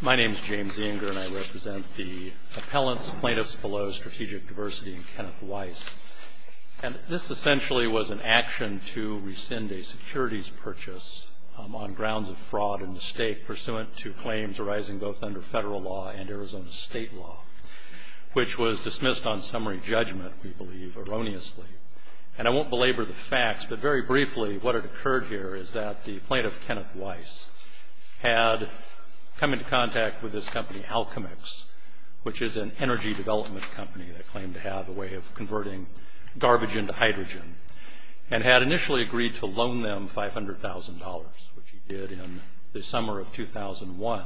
My name is James Inger and I represent the Appellants, Plaintiffs Below Strategic Diversity, and Kenneth Weiss. And this essentially was an action to rescind a securities purchase on grounds of fraud and mistake pursuant to claims arising both under federal law and Arizona state law, which was dismissed on summary judgment, we believe, erroneously. And I won't belabor the facts, but very briefly, what had occurred here is that the plaintiff, Kenneth Weiss, had come into contact with this company, Alchemix, which is an energy development company that claimed to have a way of converting garbage into hydrogen, and had initially agreed to loan them $500,000, which he did in the summer of 2001.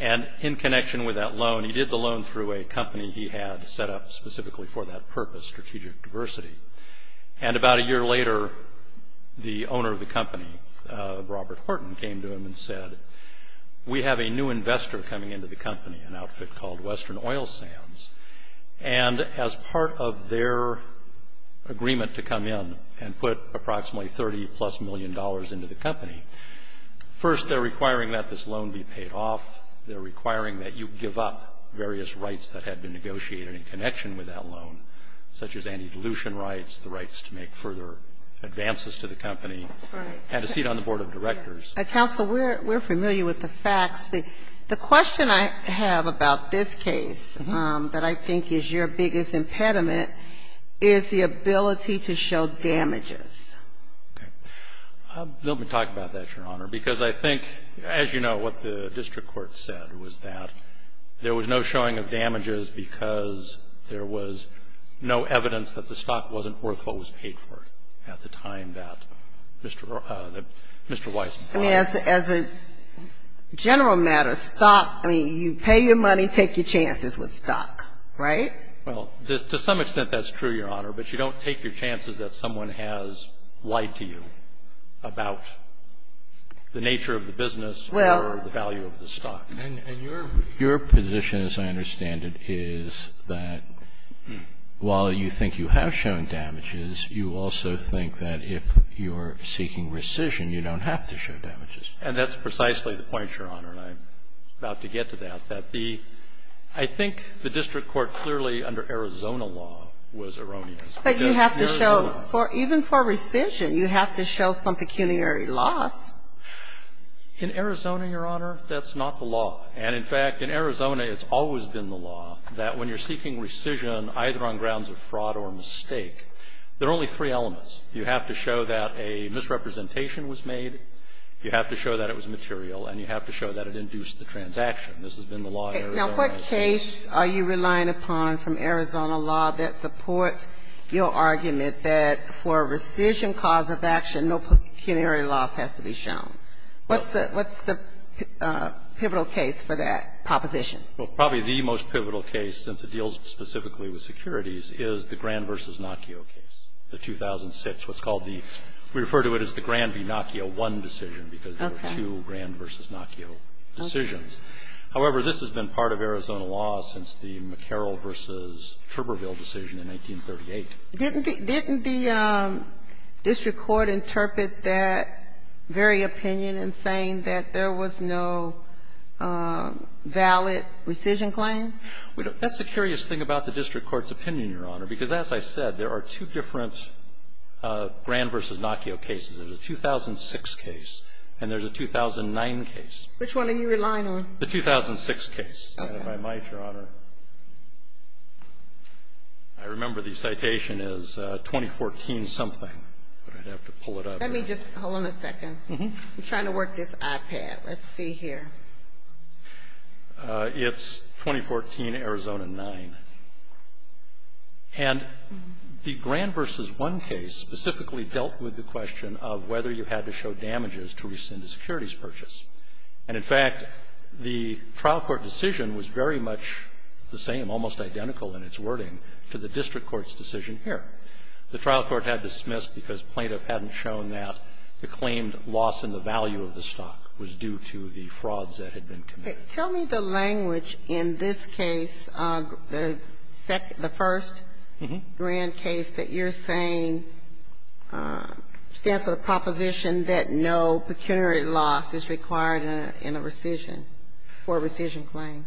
And in connection with that loan, he did the loan through a company he had set up specifically for that purpose, Strategic Diversity. And about a year later, the owner of the company, Robert Horton, came to him and said, we have a new investor coming into the company, an outfit called Western Oil Sands, and as part of their agreement to come in and put approximately $30-plus million into the company, first they're requiring that this loan be paid off. They're requiring that you give up various rights that had been negotiated in connection with that loan, such as anti-dilution rights, the rights to make further advances to the company. Had a seat on the board of directors. Counsel, we're familiar with the facts. The question I have about this case that I think is your biggest impediment is the ability to show damages. Okay. Let me talk about that, Your Honor, because I think, as you know, what the district court said was that there was no showing of damages because there was no evidence that the stock wasn't worth what was paid for it at the time that Mr. Weiss brought it. I mean, as a general matter, stock, I mean, you pay your money, take your chances with stock, right? Well, to some extent that's true, Your Honor, but you don't take your chances that someone has lied to you about the nature of the business or the value of the stock. And your position, as I understand it, is that while you think you have shown damages, you also think that if you're seeking rescission, you don't have to show damages. And that's precisely the point, Your Honor, and I'm about to get to that, that the – I think the district court clearly under Arizona law was erroneous. But you have to show – even for rescission, you have to show some pecuniary loss. In Arizona, Your Honor, that's not the law. And in fact, in Arizona, it's always been the law that when you're seeking rescission either on grounds of fraud or mistake, there are only three elements. You have to show that a misrepresentation was made, you have to show that it was material, and you have to show that it induced the transaction. This has been the law in Arizona. Now, what case are you relying upon from Arizona law that supports your argument that for a rescission cause of action, no pecuniary loss has to be shown? What's the – what's the pivotal case for that proposition? Well, probably the most pivotal case, since it deals specifically with securities, is the Grand v. Nocchio case, the 2006, what's called the – we refer to it as the Grand v. Nocchio I decision, because there were two Grand v. Nocchio decisions. However, this has been part of Arizona law since the McCarroll v. Turberville decision in 1938. Didn't the – didn't the district court interpret that very opinion in saying that there was no valid rescission claim? That's the curious thing about the district court's opinion, Your Honor, because as I said, there are two different Grand v. Nocchio cases. There's a 2006 case and there's a 2009 case. Which one are you relying on? The 2006 case. Okay. If I might, Your Honor, I remember the citation is 2014-something. But I'd have to pull it up. Let me just – hold on a second. I'm trying to work this iPad. Let's see here. It's 2014, Arizona 9. And the Grand v. 1 case specifically dealt with the question of whether you had to show damages to rescind a securities purchase. And, in fact, the trial court decision was very much the same, almost identical in its wording to the district court's decision here. The trial court had dismissed because plaintiff hadn't shown that the claimed loss in the value of the stock was due to the frauds that had been committed. Tell me the language in this case, the first Grand case that you're saying stands for the proposition that no pecuniary loss is required in a rescission, for a rescission claim.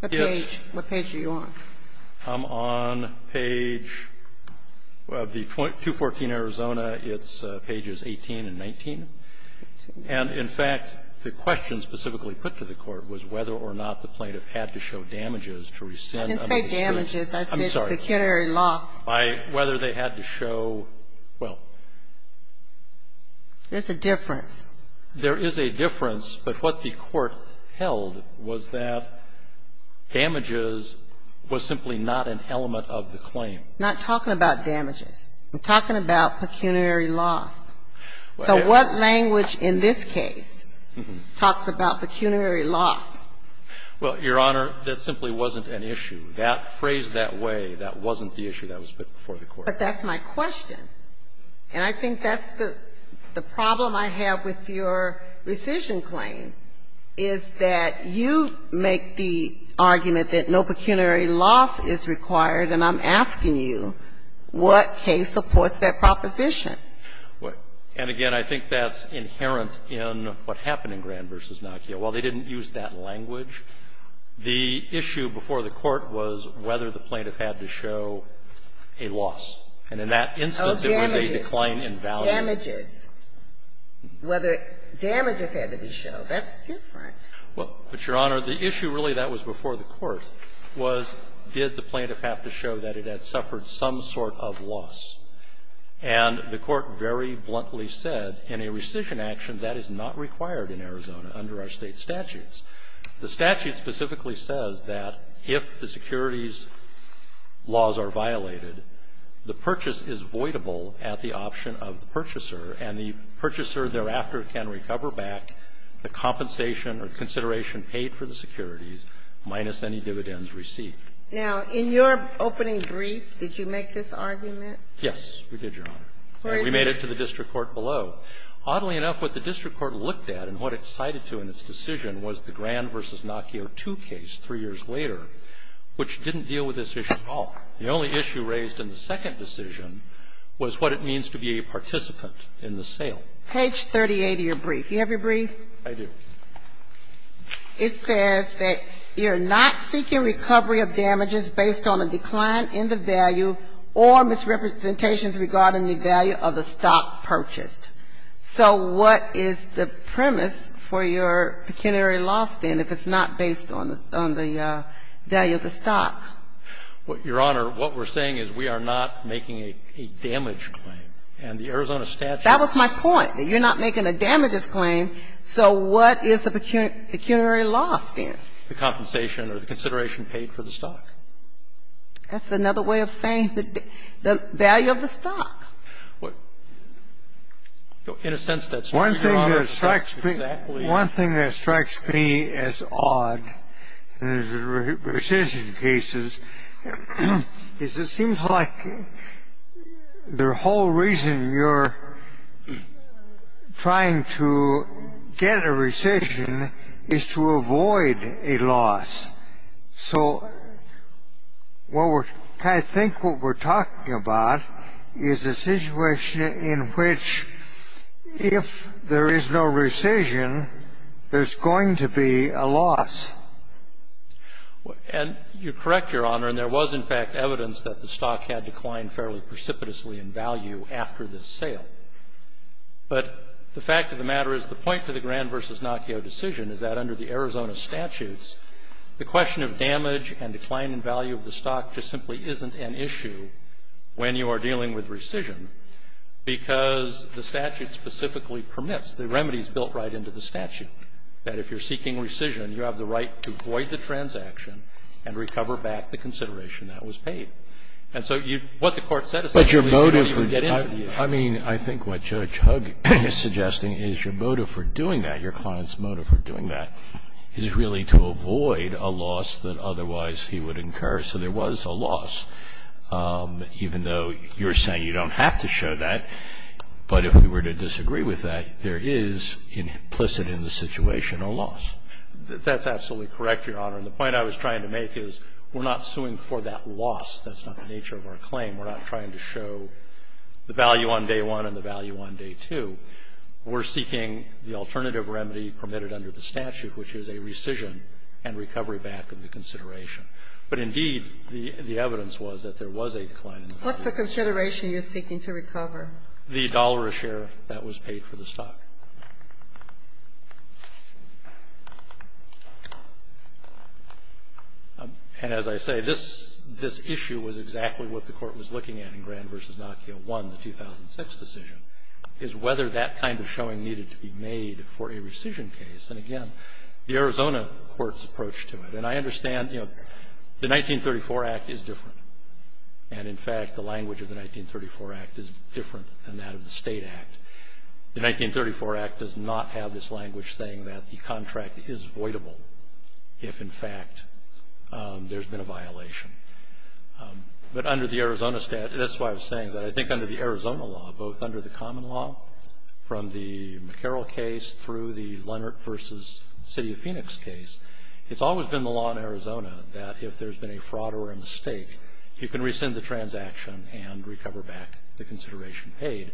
What page? What page are you on? I'm on page of the 214, Arizona. It's pages 18 and 19. And, in fact, the question specifically put to the court was whether or not the plaintiff had to show damages to rescind a securities purchase. I didn't say damages. I said pecuniary loss. By whether they had to show, well. There's a difference. There is a difference, but what the court held was that damages was simply not an element of the claim. I'm not talking about damages. I'm talking about pecuniary loss. So what language in this case talks about pecuniary loss? Well, Your Honor, that simply wasn't an issue. That phrase, that way, that wasn't the issue that was put before the court. But that's my question. And I think that's the problem I have with your rescission claim, is that you make the argument that no pecuniary loss is required, and I'm asking you, what case supports that proposition? And, again, I think that's inherent in what happened in Grand v. Nokia. While they didn't use that language, the issue before the court was whether the plaintiff had to show a loss. And in that instance, it was a decline in value. Damages. Damages had to be shown. That's different. Well, but, Your Honor, the issue really that was before the court was, did the plaintiff have to show that it had suffered some sort of loss? And the court very bluntly said, in a rescission action, that is not required in Arizona under our State statutes. The statute specifically says that if the securities laws are violated, the purchase is voidable at the option of the purchaser, and the purchaser thereafter can recover back the compensation or consideration paid for the securities, minus any dividends received. Now, in your opening brief, did you make this argument? Yes, we did, Your Honor. And we made it to the district court below. Oddly enough, what the district court looked at and what it cited to in its decision was the Grand v. Nocchio II case 3 years later, which didn't deal with this issue at all. The only issue raised in the second decision was what it means to be a participant in the sale. Page 38 of your brief. Do you have your brief? I do. It says that you're not seeking recovery of damages based on a decline in the value or misrepresentations regarding the value of the stock purchased. So what is the premise for your pecuniary law stand if it's not based on the value of the stock? Your Honor, what we're saying is we are not making a damage claim. And the Arizona statute says that. That was my point, that you're not making a damages claim. So what is the pecuniary law stand? The compensation or the consideration paid for the stock. That's another way of saying the value of the stock. In a sense, that's true, Your Honor. One thing that strikes me as odd in the rescission cases is it seems like the whole reason you're trying to get a rescission is to avoid a loss. So I think what we're talking about is a situation in which if there is no rescission, there's going to be a loss. And you're correct, Your Honor. And there was, in fact, evidence that the stock had declined fairly precipitously in value after this sale. But the fact of the matter is the point to the Grand v. Naccio decision is that under the Arizona statutes, the question of damage and decline in value of the stock just simply isn't an issue when you are dealing with rescission because the statute specifically permits, the remedy is built right into the statute, that if you're seeking rescission, you have the right to void the transaction and recover back the consideration that was paid. And so what the Court said essentially is nobody would get into the issue. I mean, I think what Judge Hugg is suggesting is your motive for doing that, your client's motive for doing that, is really to avoid a loss that otherwise he would incur. So there was a loss, even though you're saying you don't have to show that. But if we were to disagree with that, there is implicit in the situation a loss. That's absolutely correct, Your Honor. And the point I was trying to make is we're not suing for that loss. That's not the nature of our claim. We're not trying to show the value on day one and the value on day two. We're seeking the alternative remedy permitted under the statute, which is a rescission and recovery back of the consideration. But indeed, the evidence was that there was a decline in the value of the stock. Ginsburg. What's the consideration you're seeking to recover? The dollar a share that was paid for the stock. And as I say, this issue was exactly what the Court was looking at in Grand v. Nokia 1, the 2006 decision, is whether that kind of showing needed to be made for a rescission case. And again, the Arizona court's approach to it. And I understand, you know, the 1934 Act is different. And in fact, the language of the 1934 Act is different than that of the State Act. The 1934 Act does not have this language saying that the contract is voidable if, in fact, there's been a violation. But under the Arizona statute, that's why I was saying that I think under the Arizona law, both under the common law from the McCarroll case through the Leonard v. City of Phoenix case, it's always been the law in Arizona that if there's been a fraud or a mistake, you can rescind the transaction and recover back the consideration paid.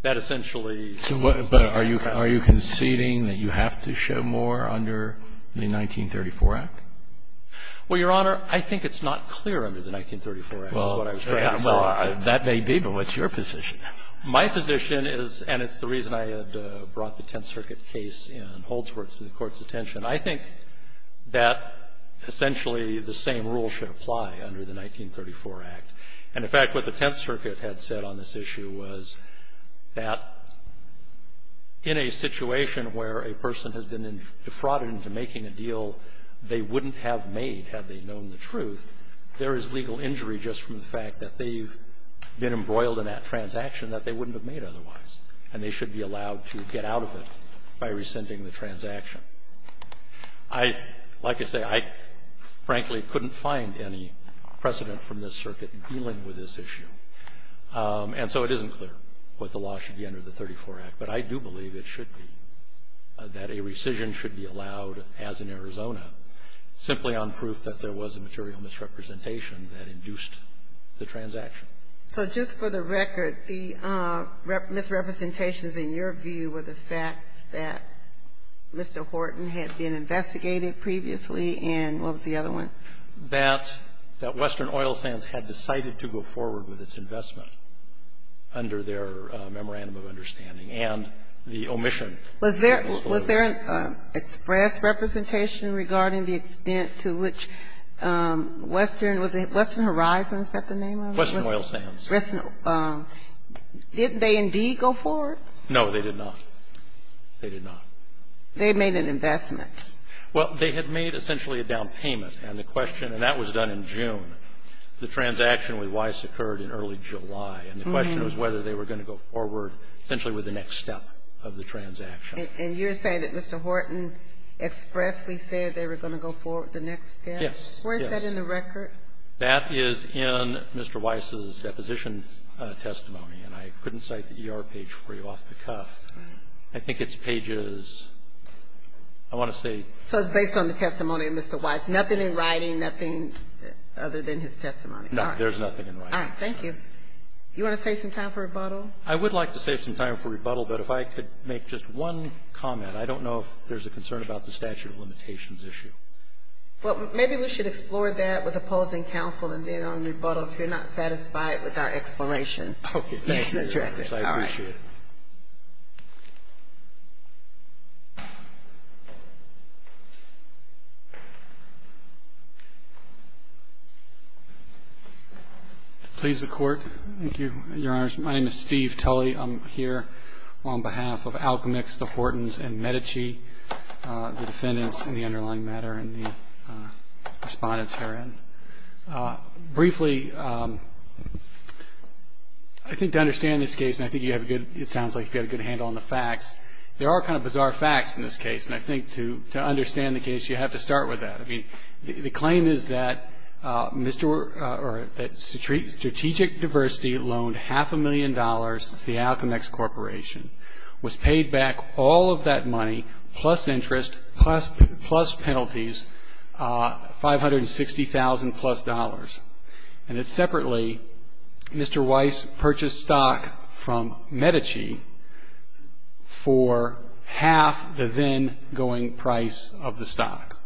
That essentially is what the State Act does. So are you conceding that you have to show more under the 1934 Act? Well, Your Honor, I think it's not clear under the 1934 Act. Well, that may be, but what's your position? My position is, and it's the reason I had brought the Tenth Circuit case in Holdsworth to the Court's attention, I think that essentially the same rule should apply under the 1934 Act. And, in fact, what the Tenth Circuit had said on this issue was that in a situation where a person has been defrauded into making a deal they wouldn't have made had they known the truth, there is legal injury just from the fact that they've been embroiled in that transaction that they wouldn't have made otherwise, and they should be allowed to get out of it by rescinding the transaction. I, like I say, I frankly couldn't find any precedent from this circuit dealing with this issue, and so it isn't clear what the law should be under the 1934 Act. But I do believe it should be, that a rescission should be allowed as in Arizona simply on proof that there was a material misrepresentation that induced the transaction. So just for the record, the misrepresentations in your view were the facts that Mr. Horton had been investigating previously and what was the other one? That Western Oil Sands had decided to go forward with its investment under their memorandum of understanding and the omission. Was there an express representation regarding the extent to which Western, was it Western Horizons, is that the name of it? Western Oil Sands. Didn't they indeed go forward? No, they did not. They did not. They made an investment. Well, they had made essentially a down payment, and the question, and that was done in June. The transaction with Weiss occurred in early July. And the question was whether they were going to go forward essentially with the next step of the transaction. And you're saying that Mr. Horton expressly said they were going to go forward the next step? Yes. Yes. Where is that in the record? That is in Mr. Weiss's deposition testimony, and I couldn't cite the ER page for you off the cuff. I think it's pages, I want to say. So it's based on the testimony of Mr. Weiss. Nothing in writing, nothing other than his testimony. No. There's nothing in writing. All right. Thank you. You want to save some time for rebuttal? I would like to save some time for rebuttal, but if I could make just one comment. I don't know if there's a concern about the statute of limitations issue. Well, maybe we should explore that with opposing counsel and then on rebuttal if you're not satisfied with our exploration. Okay. Thank you. I appreciate it. Thank you. To please the Court. Thank you, Your Honors. My name is Steve Tully. I'm here on behalf of Alchemist, the Hortons, and Medici, the defendants in the underlying matter and the Respondents herein. Briefly, I think to understand this case, and I think you have a good, it sounds like you have a good handle on the facts, there are kind of bizarre facts in this case. And I think to understand the case, you have to start with that. I mean, the claim is that strategic diversity loaned half a million dollars to the Alchemist Corporation, was paid back all of that money, plus interest, plus penalties, $560,000 plus. And then separately, Mr. Weiss purchased stock from Medici for half the then going price of the stock.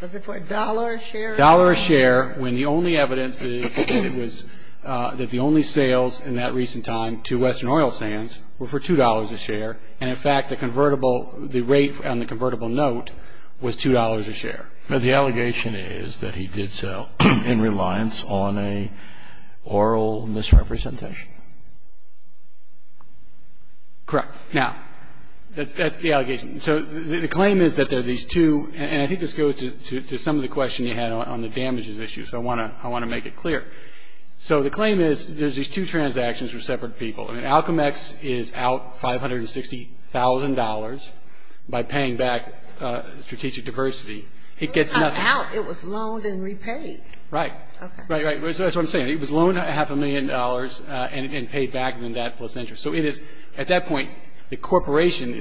Was it for a dollar a share? A dollar a share when the only evidence is that the only sales in that recent time to Western Oil Sands were for $2 a share, and in fact, the rate on the convertible note was $2 a share. But the allegation is that he did so in reliance on an oral misrepresentation. Correct. Now, that's the allegation. So the claim is that there are these two, and I think this goes to some of the question you had on the damages issue, so I want to make it clear. So the claim is there's these two transactions for separate people. I mean, Alchemist is out $560,000 by paying back strategic diversity. It gets nothing. It was not out. It was loaned and repaid. Right. Right, right. That's what I'm saying. It was loaned half a million dollars and paid back, and then that plus interest. So it is, at that point, the corporation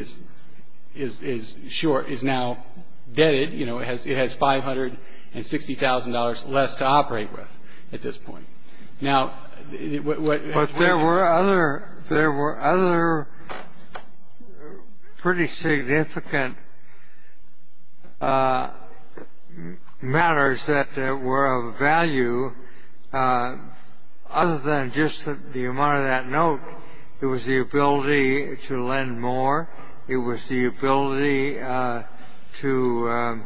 is short, is now debted. You know, it has $560,000 less to operate with at this point. But there were other pretty significant matters that were of value other than just the amount of that note. It was the ability to lend more. It was the ability to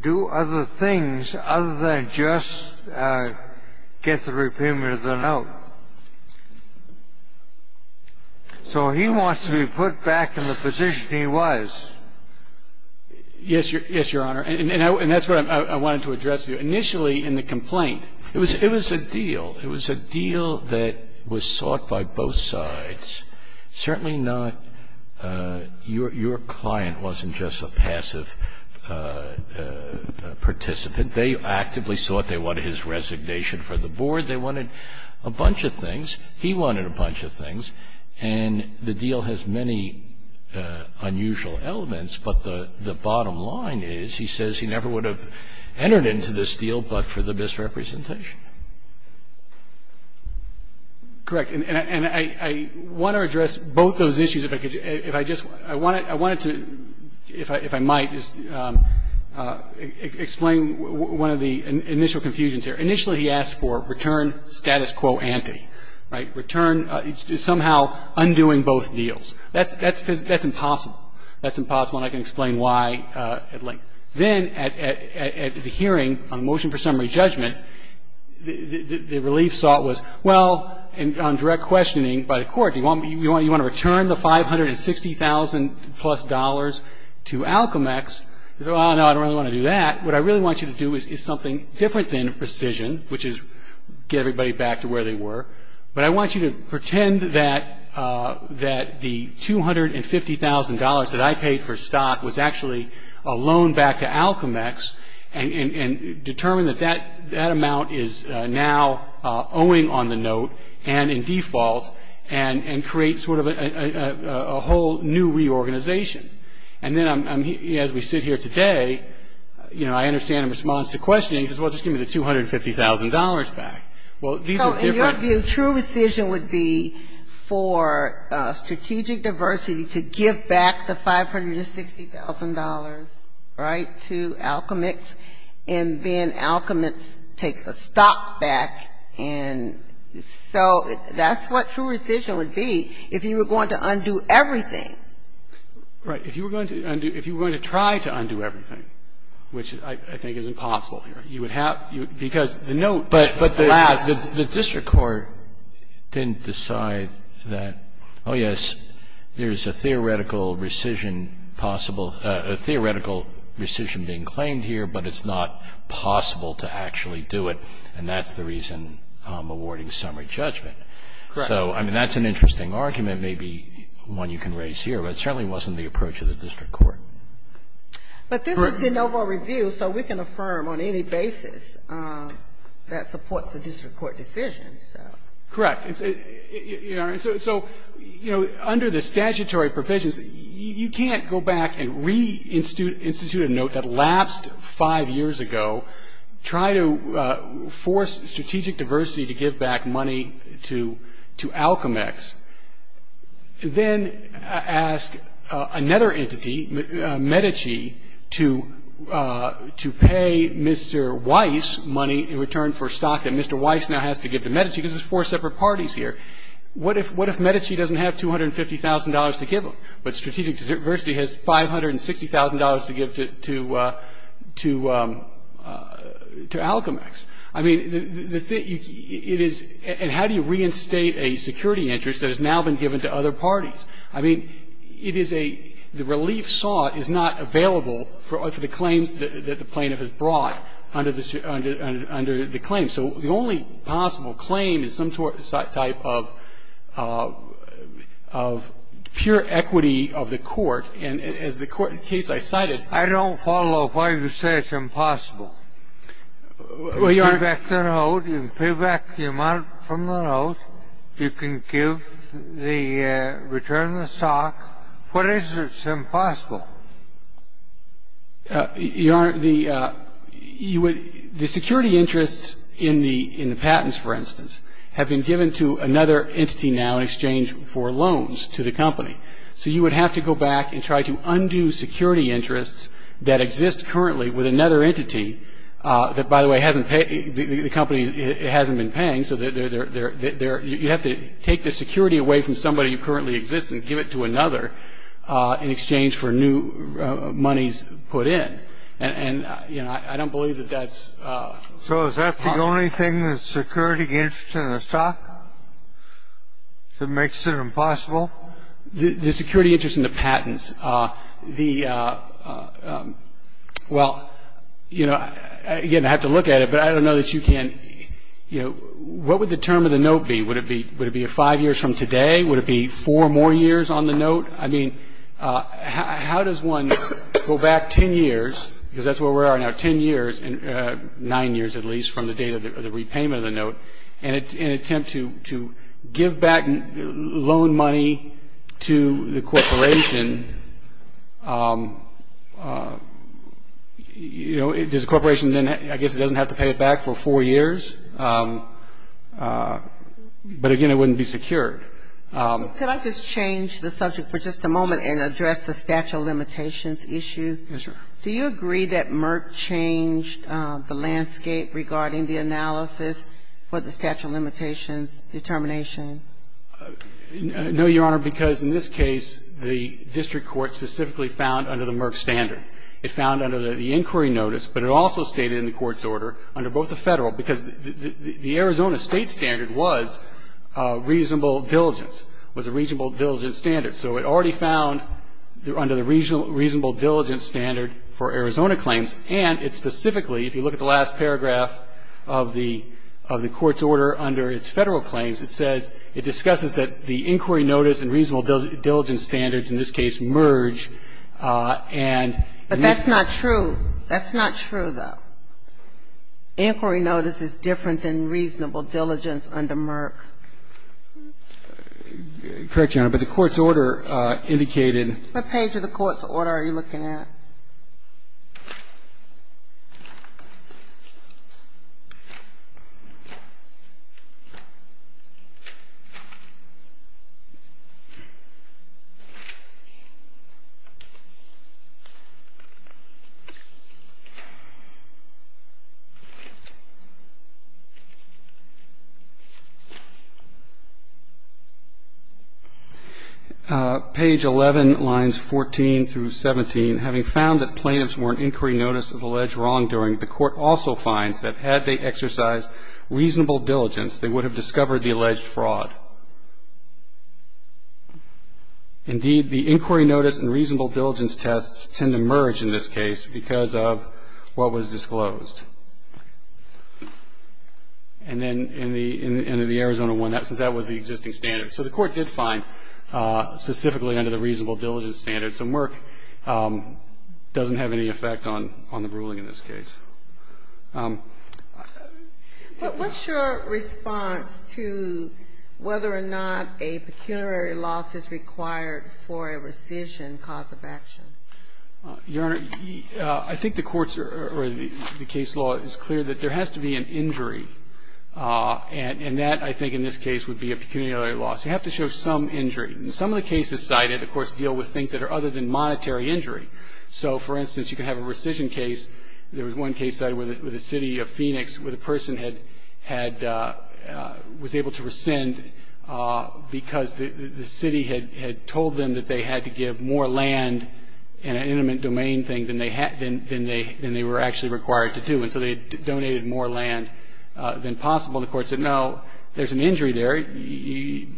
do other things other than just get the repayment of the note. So he wants to be put back in the position he was. Yes, Your Honor. And that's what I wanted to address to you. Initially in the complaint, it was a deal. It was a deal that was sought by both sides. Certainly not your client wasn't just a passive participant. They actively thought they wanted his resignation from the board. They wanted a bunch of things. He wanted a bunch of things. And the deal has many unusual elements, but the bottom line is, he says, he never would have entered into this deal but for the misrepresentation. Correct. And I want to address both those issues. If I could, if I just, I wanted to, if I might, just explain one of the initial confusions here. Initially he asked for return status quo ante. Right? Return, somehow undoing both deals. That's impossible. That's impossible, and I can explain why at length. Then at the hearing on motion for summary judgment, the relief sought was, well, on direct questioning by the court, do you want to return the $560,000-plus to Alcomex? He said, well, no, I don't really want to do that. What I really want you to do is something different than precision, which is get everybody back to where they were. But I want you to pretend that the $250,000 that I paid for stock was actually a loan back to Alcomex and determine that that amount is now owing on the note and in default and create sort of a whole new reorganization. And then as we sit here today, you know, I understand in response to questioning, he says, well, just give me the $250,000 back. Well, these are different. So in your view, true rescission would be for strategic diversity to give back the $560,000, right, to Alcomex, and then Alcomex take the stock back. And so that's what true rescission would be if you were going to undo everything. Right. If you were going to try to undo everything, which I think is impossible here, you would have to But the district court didn't decide that, oh, yes, there's a theoretical rescission possible, a theoretical rescission being claimed here, but it's not possible to actually do it, and that's the reason I'm awarding summary judgment. Correct. So, I mean, that's an interesting argument, maybe one you can raise here, but it certainly wasn't the approach of the district court. Correct. So we can affirm on any basis that supports the district court decision, so. Correct. So, you know, under the statutory provisions, you can't go back and reinstitute a note that lapsed five years ago, try to force strategic diversity to give back money to Alcomex, then ask another entity, Medici, to pay Mr. Weiss money in return for stock that Mr. Weiss now has to give to Medici because there's four separate parties here. What if Medici doesn't have $250,000 to give him, but strategic diversity has $560,000 to give to Alcomex? I mean, the thing, it is, and how do you reinstate a security interest that has now been given to other parties? I mean, it is a, the relief sought is not available for the claims that the plaintiff has brought under the claim. So the only possible claim is some type of pure equity of the court, and as the case I cited. I don't follow why you say it's impossible. Well, Your Honor. You can pay back the note. You can pay back the amount from the note. You can give the return of the stock. What is it that's impossible? Your Honor, the security interests in the patents, for instance, have been given to another entity now in exchange for loans to the company. So you would have to go back and try to undo security interests that exist currently with another entity that, by the way, hasn't paid, the company hasn't been paying. So you have to take the security away from somebody who currently exists and give it to another in exchange for new monies put in. And, you know, I don't believe that that's possible. So is that the only thing, the security interest in the stock, that makes it impossible? The security interest in the patents. Well, you know, again, I have to look at it, but I don't know that you can. You know, what would the term of the note be? Would it be five years from today? Would it be four more years on the note? I mean, how does one go back ten years, because that's where we are now, ten years, nine years at least from the date of the repayment of the note, and in an attempt to give back loan money to the corporation, you know, does the corporation then, I guess, it doesn't have to pay it back for four years? But, again, it wouldn't be secured. Could I just change the subject for just a moment and address the statute of limitations issue? Yes, sir. Do you agree that Merck changed the landscape regarding the analysis for the statute of limitations determination? No, Your Honor, because in this case, the district court specifically found under the Merck standard. It found under the inquiry notice, but it also stated in the court's order under both the Federal because the Arizona State standard was reasonable diligence, was a reasonable diligence standard. So it already found under the reasonable diligence standard for Arizona claims, and it specifically, if you look at the last paragraph of the court's order under its Federal claims, it says it discusses that the inquiry notice and reasonable diligence standards in this case merge, and in this case. But that's not true. That's not true, though. Inquiry notice is different than reasonable diligence under Merck. Correct, Your Honor, but the court's order indicated. What page of the court's order are you looking at? Page 11, lines 14 through 17. Having found that plaintiffs were in inquiry notice of alleged wrongdoing, the court also finds that had they exercised reasonable diligence, they would have discovered the alleged fraud. Indeed, the inquiry notice and reasonable diligence tests tend to merge in this case because of what was disclosed. And then in the Arizona one, that was the existing standard. So the court did find specifically under the reasonable diligence standard. So Merck doesn't have any effect on the ruling in this case. But what's your response to whether or not a pecuniary loss is required for a rescission cause of action? Your Honor, I think the court's or the case law is clear that there has to be an injury. And that, I think, in this case would be a pecuniary loss. You have to show some injury. And some of the cases cited, of course, deal with things that are other than monetary injury. So, for instance, you can have a rescission case. There was one case cited with the city of Phoenix where the person was able to rescind because the city had told them that they had to give more land in an intimate domain thing than they were actually required to do. And so they donated more land than possible. And the court said, no, there's an injury there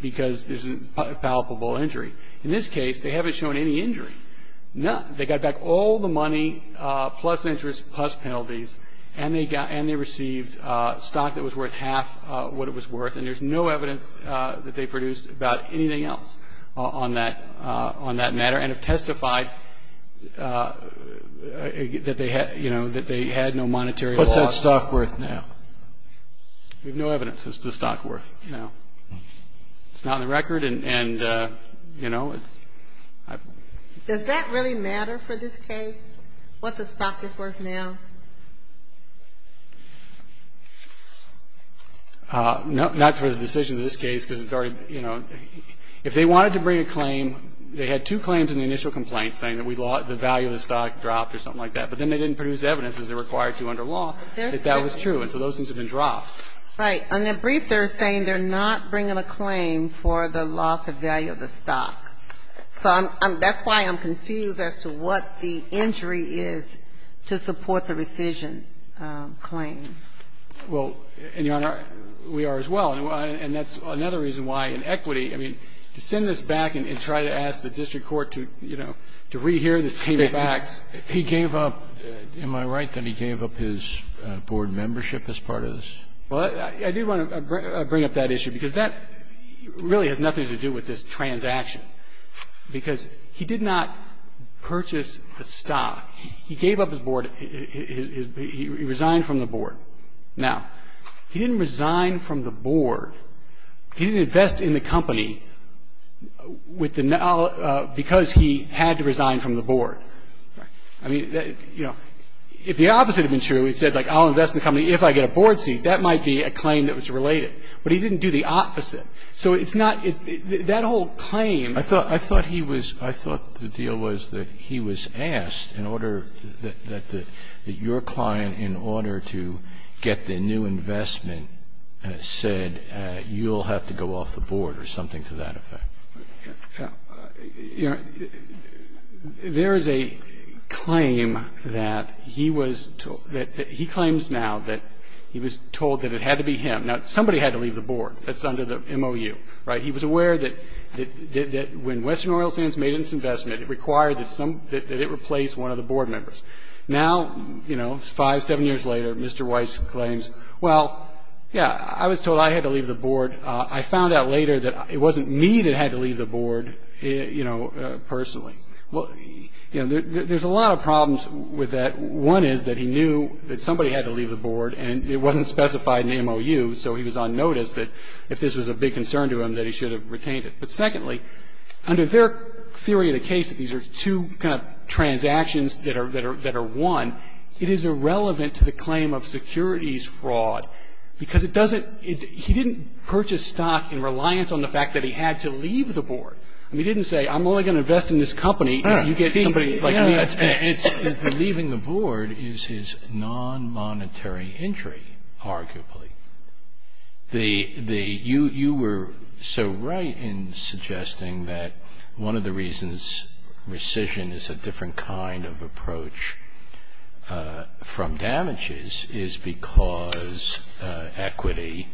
because there's a palpable injury. In this case, they haven't shown any injury. None. They got back all the money, plus interest, plus penalties, and they received stock that was worth half what it was worth. And there's no evidence that they produced about anything else on that matter and have testified that they had no monetary loss. What's that stock worth now? We have no evidence as to the stock worth now. It's not on the record and, you know. Does that really matter for this case, what the stock is worth now? Not for the decision of this case because it's already, you know. If they wanted to bring a claim, they had two claims in the initial complaint saying that the value of the stock dropped or something like that. But then they didn't produce evidence, as they're required to under law, that that was true. And so those things have been dropped. Right. On their brief, they're saying they're not bringing a claim for the loss of value of the stock. So that's why I'm confused as to what the injury is to support the rescission claim. Well, and, Your Honor, we are as well. And that's another reason why, in equity, I mean, to send this back and try to ask the district court to, you know, to rehear this team of facts. He gave up. Am I right that he gave up his board membership as part of this? Well, I do want to bring up that issue because that really has nothing to do with this transaction, because he did not purchase the stock. He gave up his board. He resigned from the board. Now, he didn't resign from the board. He didn't invest in the company because he had to resign from the board. Right. I mean, you know, if the opposite had been true, he said, like, I'll invest in the company if I get a board seat, that might be a claim that was related. But he didn't do the opposite. So it's not that whole claim. I thought he was, I thought the deal was that he was asked in order, that your client in order to get the new investment said, you'll have to go off the board or something to that effect. Your Honor, there is a claim that he was, that he claims now that he was told that it had to be him. Now, somebody had to leave the board. That's under the MOU. Right. He was aware that when Western Oil Sands made its investment, it required that some, that it replace one of the board members. Now, you know, five, seven years later, Mr. Weiss claims, well, yeah, I was told I had to leave the board. I found out later that it wasn't me that had to leave the board, you know, personally. Well, you know, there's a lot of problems with that. One is that he knew that somebody had to leave the board, and it wasn't specified in the case. So it's not that he had to leave the board. It's that he hadn't noticed that if this was a big concern to him that he should have retained it. But secondly, under their theory of the case that these are two kind of transactions that are one, it is irrelevant to the claim of securities fraud because it doesn't he didn't purchase stock in reliance on the fact that he had to leave the board. He didn't say, I'm only going to invest in this company if you get somebody like me. Leaving the board is his non-monetary injury, arguably. You were so right in suggesting that one of the reasons rescission is a different kind of approach from damages is because equity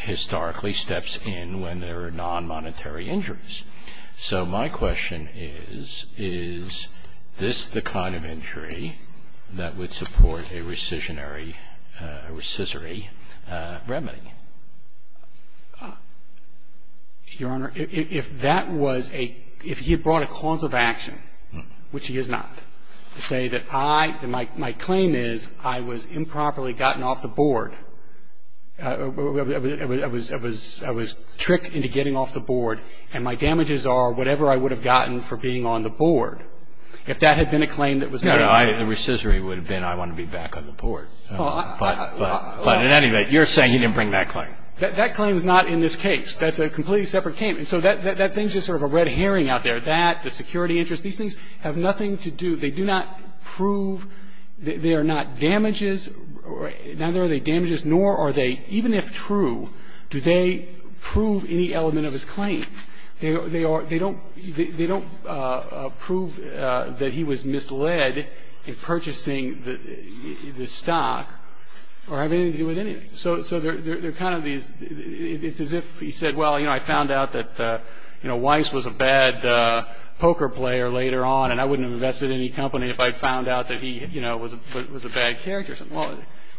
historically steps in when there are non-monetary injuries. So my question is, is this the kind of injury that would support a rescissory remedy? Your Honor, if that was a, if he had brought a cause of action, which he has not, to say that I, my claim is I was improperly gotten off the board, I was tricked into getting off the board, and my damages are whatever I would have gotten for being on the board, if that had been a claim that was made. No, no. The rescissory would have been I want to be back on the board. But in any event, you're saying he didn't bring that claim. That claim is not in this case. That's a completely separate case. And so that thing is just sort of a red herring out there. That, the security interest, these things have nothing to do, they do not prove they are not damages, neither are they damages, nor are they, even if true, do they prove any element of his claim. They don't prove that he was misled in purchasing the stock or having anything to do with anything. So they're kind of these, it's as if he said, well, you know, I found out that, you know, Weiss was a bad poker player later on, and I wouldn't have invested in any company if I'd found out that he, you know, was a bad character or something. Well,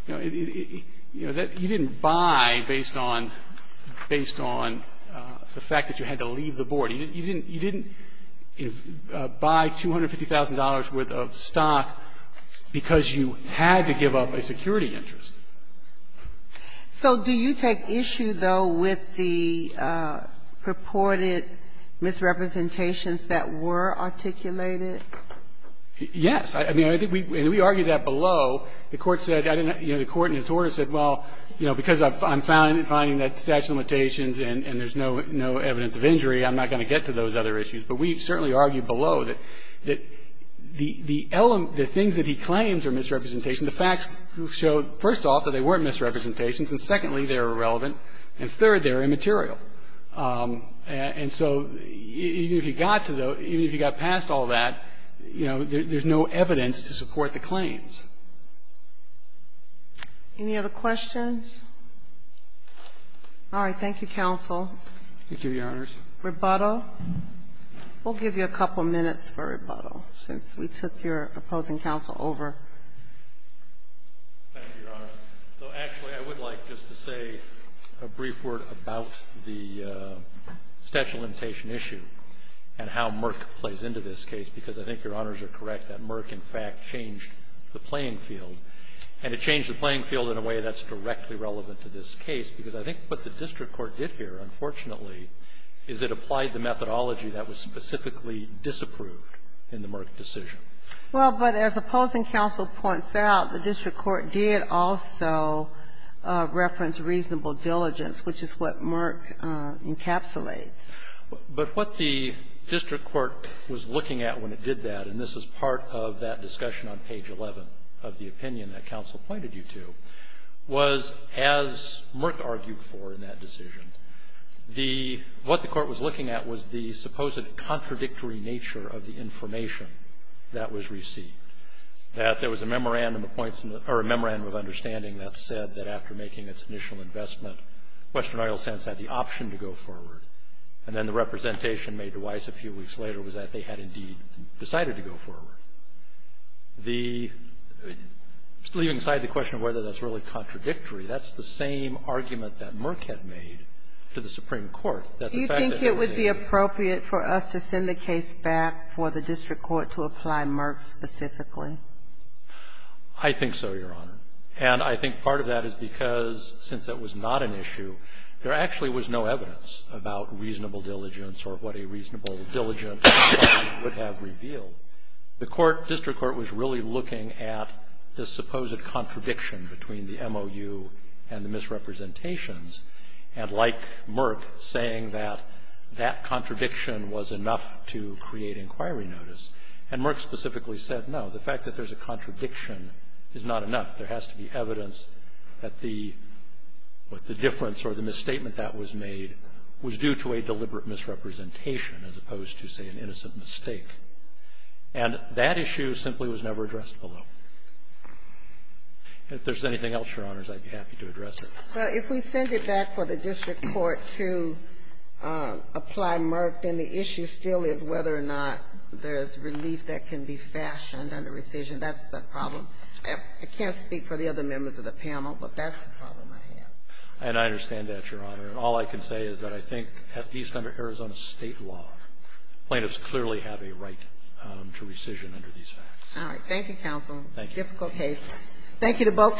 you know, you didn't buy based on the fact that you had to leave the board. You didn't buy $250,000 worth of stock because you had to give up a security interest. So do you take issue, though, with the purported misrepresentations that were articulated? Yes. I mean, I think we argued that below. The Court said, you know, the Court in its order said, well, you know, because I'm finding that statute of limitations and there's no evidence of injury, I'm not going to get to those other issues. But we certainly argued below that the things that he claims are misrepresentations, the facts show, first off, that they weren't misrepresentations, and secondly, they're irrelevant, and third, they're immaterial. And so even if you got to those, even if you got past all that, you know, there's no evidence to support the claims. Any other questions? All right. Thank you, counsel. Thank you, Your Honors. Rebuttal. We'll give you a couple of minutes for rebuttal since we took your opposing counsel over. Thank you, Your Honor. Actually, I would like just to say a brief word about the statute of limitation issue and how Merck plays into this case, because I think Your Honors are correct that Merck, in fact, changed the playing field, and it changed the playing field in a way that's directly relevant to this case, because I think what the district court did here, unfortunately, is it applied the methodology that was specifically disapproved in the Merck decision. Well, but as opposing counsel points out, the district court did also reference reasonable diligence, which is what Merck encapsulates. But what the district court was looking at when it did that, and this is part of that discussion on page 11 of the opinion that counsel pointed you to, was, as Merck argued for in that decision, what the court was looking at was the supposed contradictory nature of the information that was received. That there was a memorandum of understanding that said that after making its initial investment, Western Oil Sands had the option to go forward, and then the representation made to Weiss a few weeks later was that they had, indeed, decided to go forward. Leaving aside the question of whether that's really contradictory, that's the same argument that Merck had made to the Supreme Court, that the fact that they were made to go forward. Do you think it would be appropriate for us to send the case back for the district court to apply Merck specifically? I think so, Your Honor. And I think part of that is because, since it was not an issue, there actually was no evidence about reasonable diligence or what a reasonable diligence would have revealed. The court, district court, was really looking at the supposed contradiction between the MOU and the misrepresentations, and like Merck, saying that that contradiction was enough to create inquiry notice. And Merck specifically said, no, the fact that there's a contradiction is not enough. There has to be evidence that the difference or the misstatement that was made was due to a deliberate misrepresentation as opposed to, say, an innocent mistake. And that issue simply was never addressed below. If there's anything else, Your Honors, I'd be happy to address it. Well, if we send it back for the district court to apply Merck, then the issue still is whether or not there's relief that can be fashioned under rescission. That's the problem. I can't speak for the other members of the panel, but that's the problem I have. And I understand that, Your Honor. And all I can say is that I think, at least under Arizona state law, plaintiffs clearly have a right to rescission under these facts. All right. Thank you, counsel. Thank you. Difficult case. Thank you to both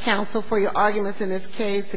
counsel for your arguments in this case.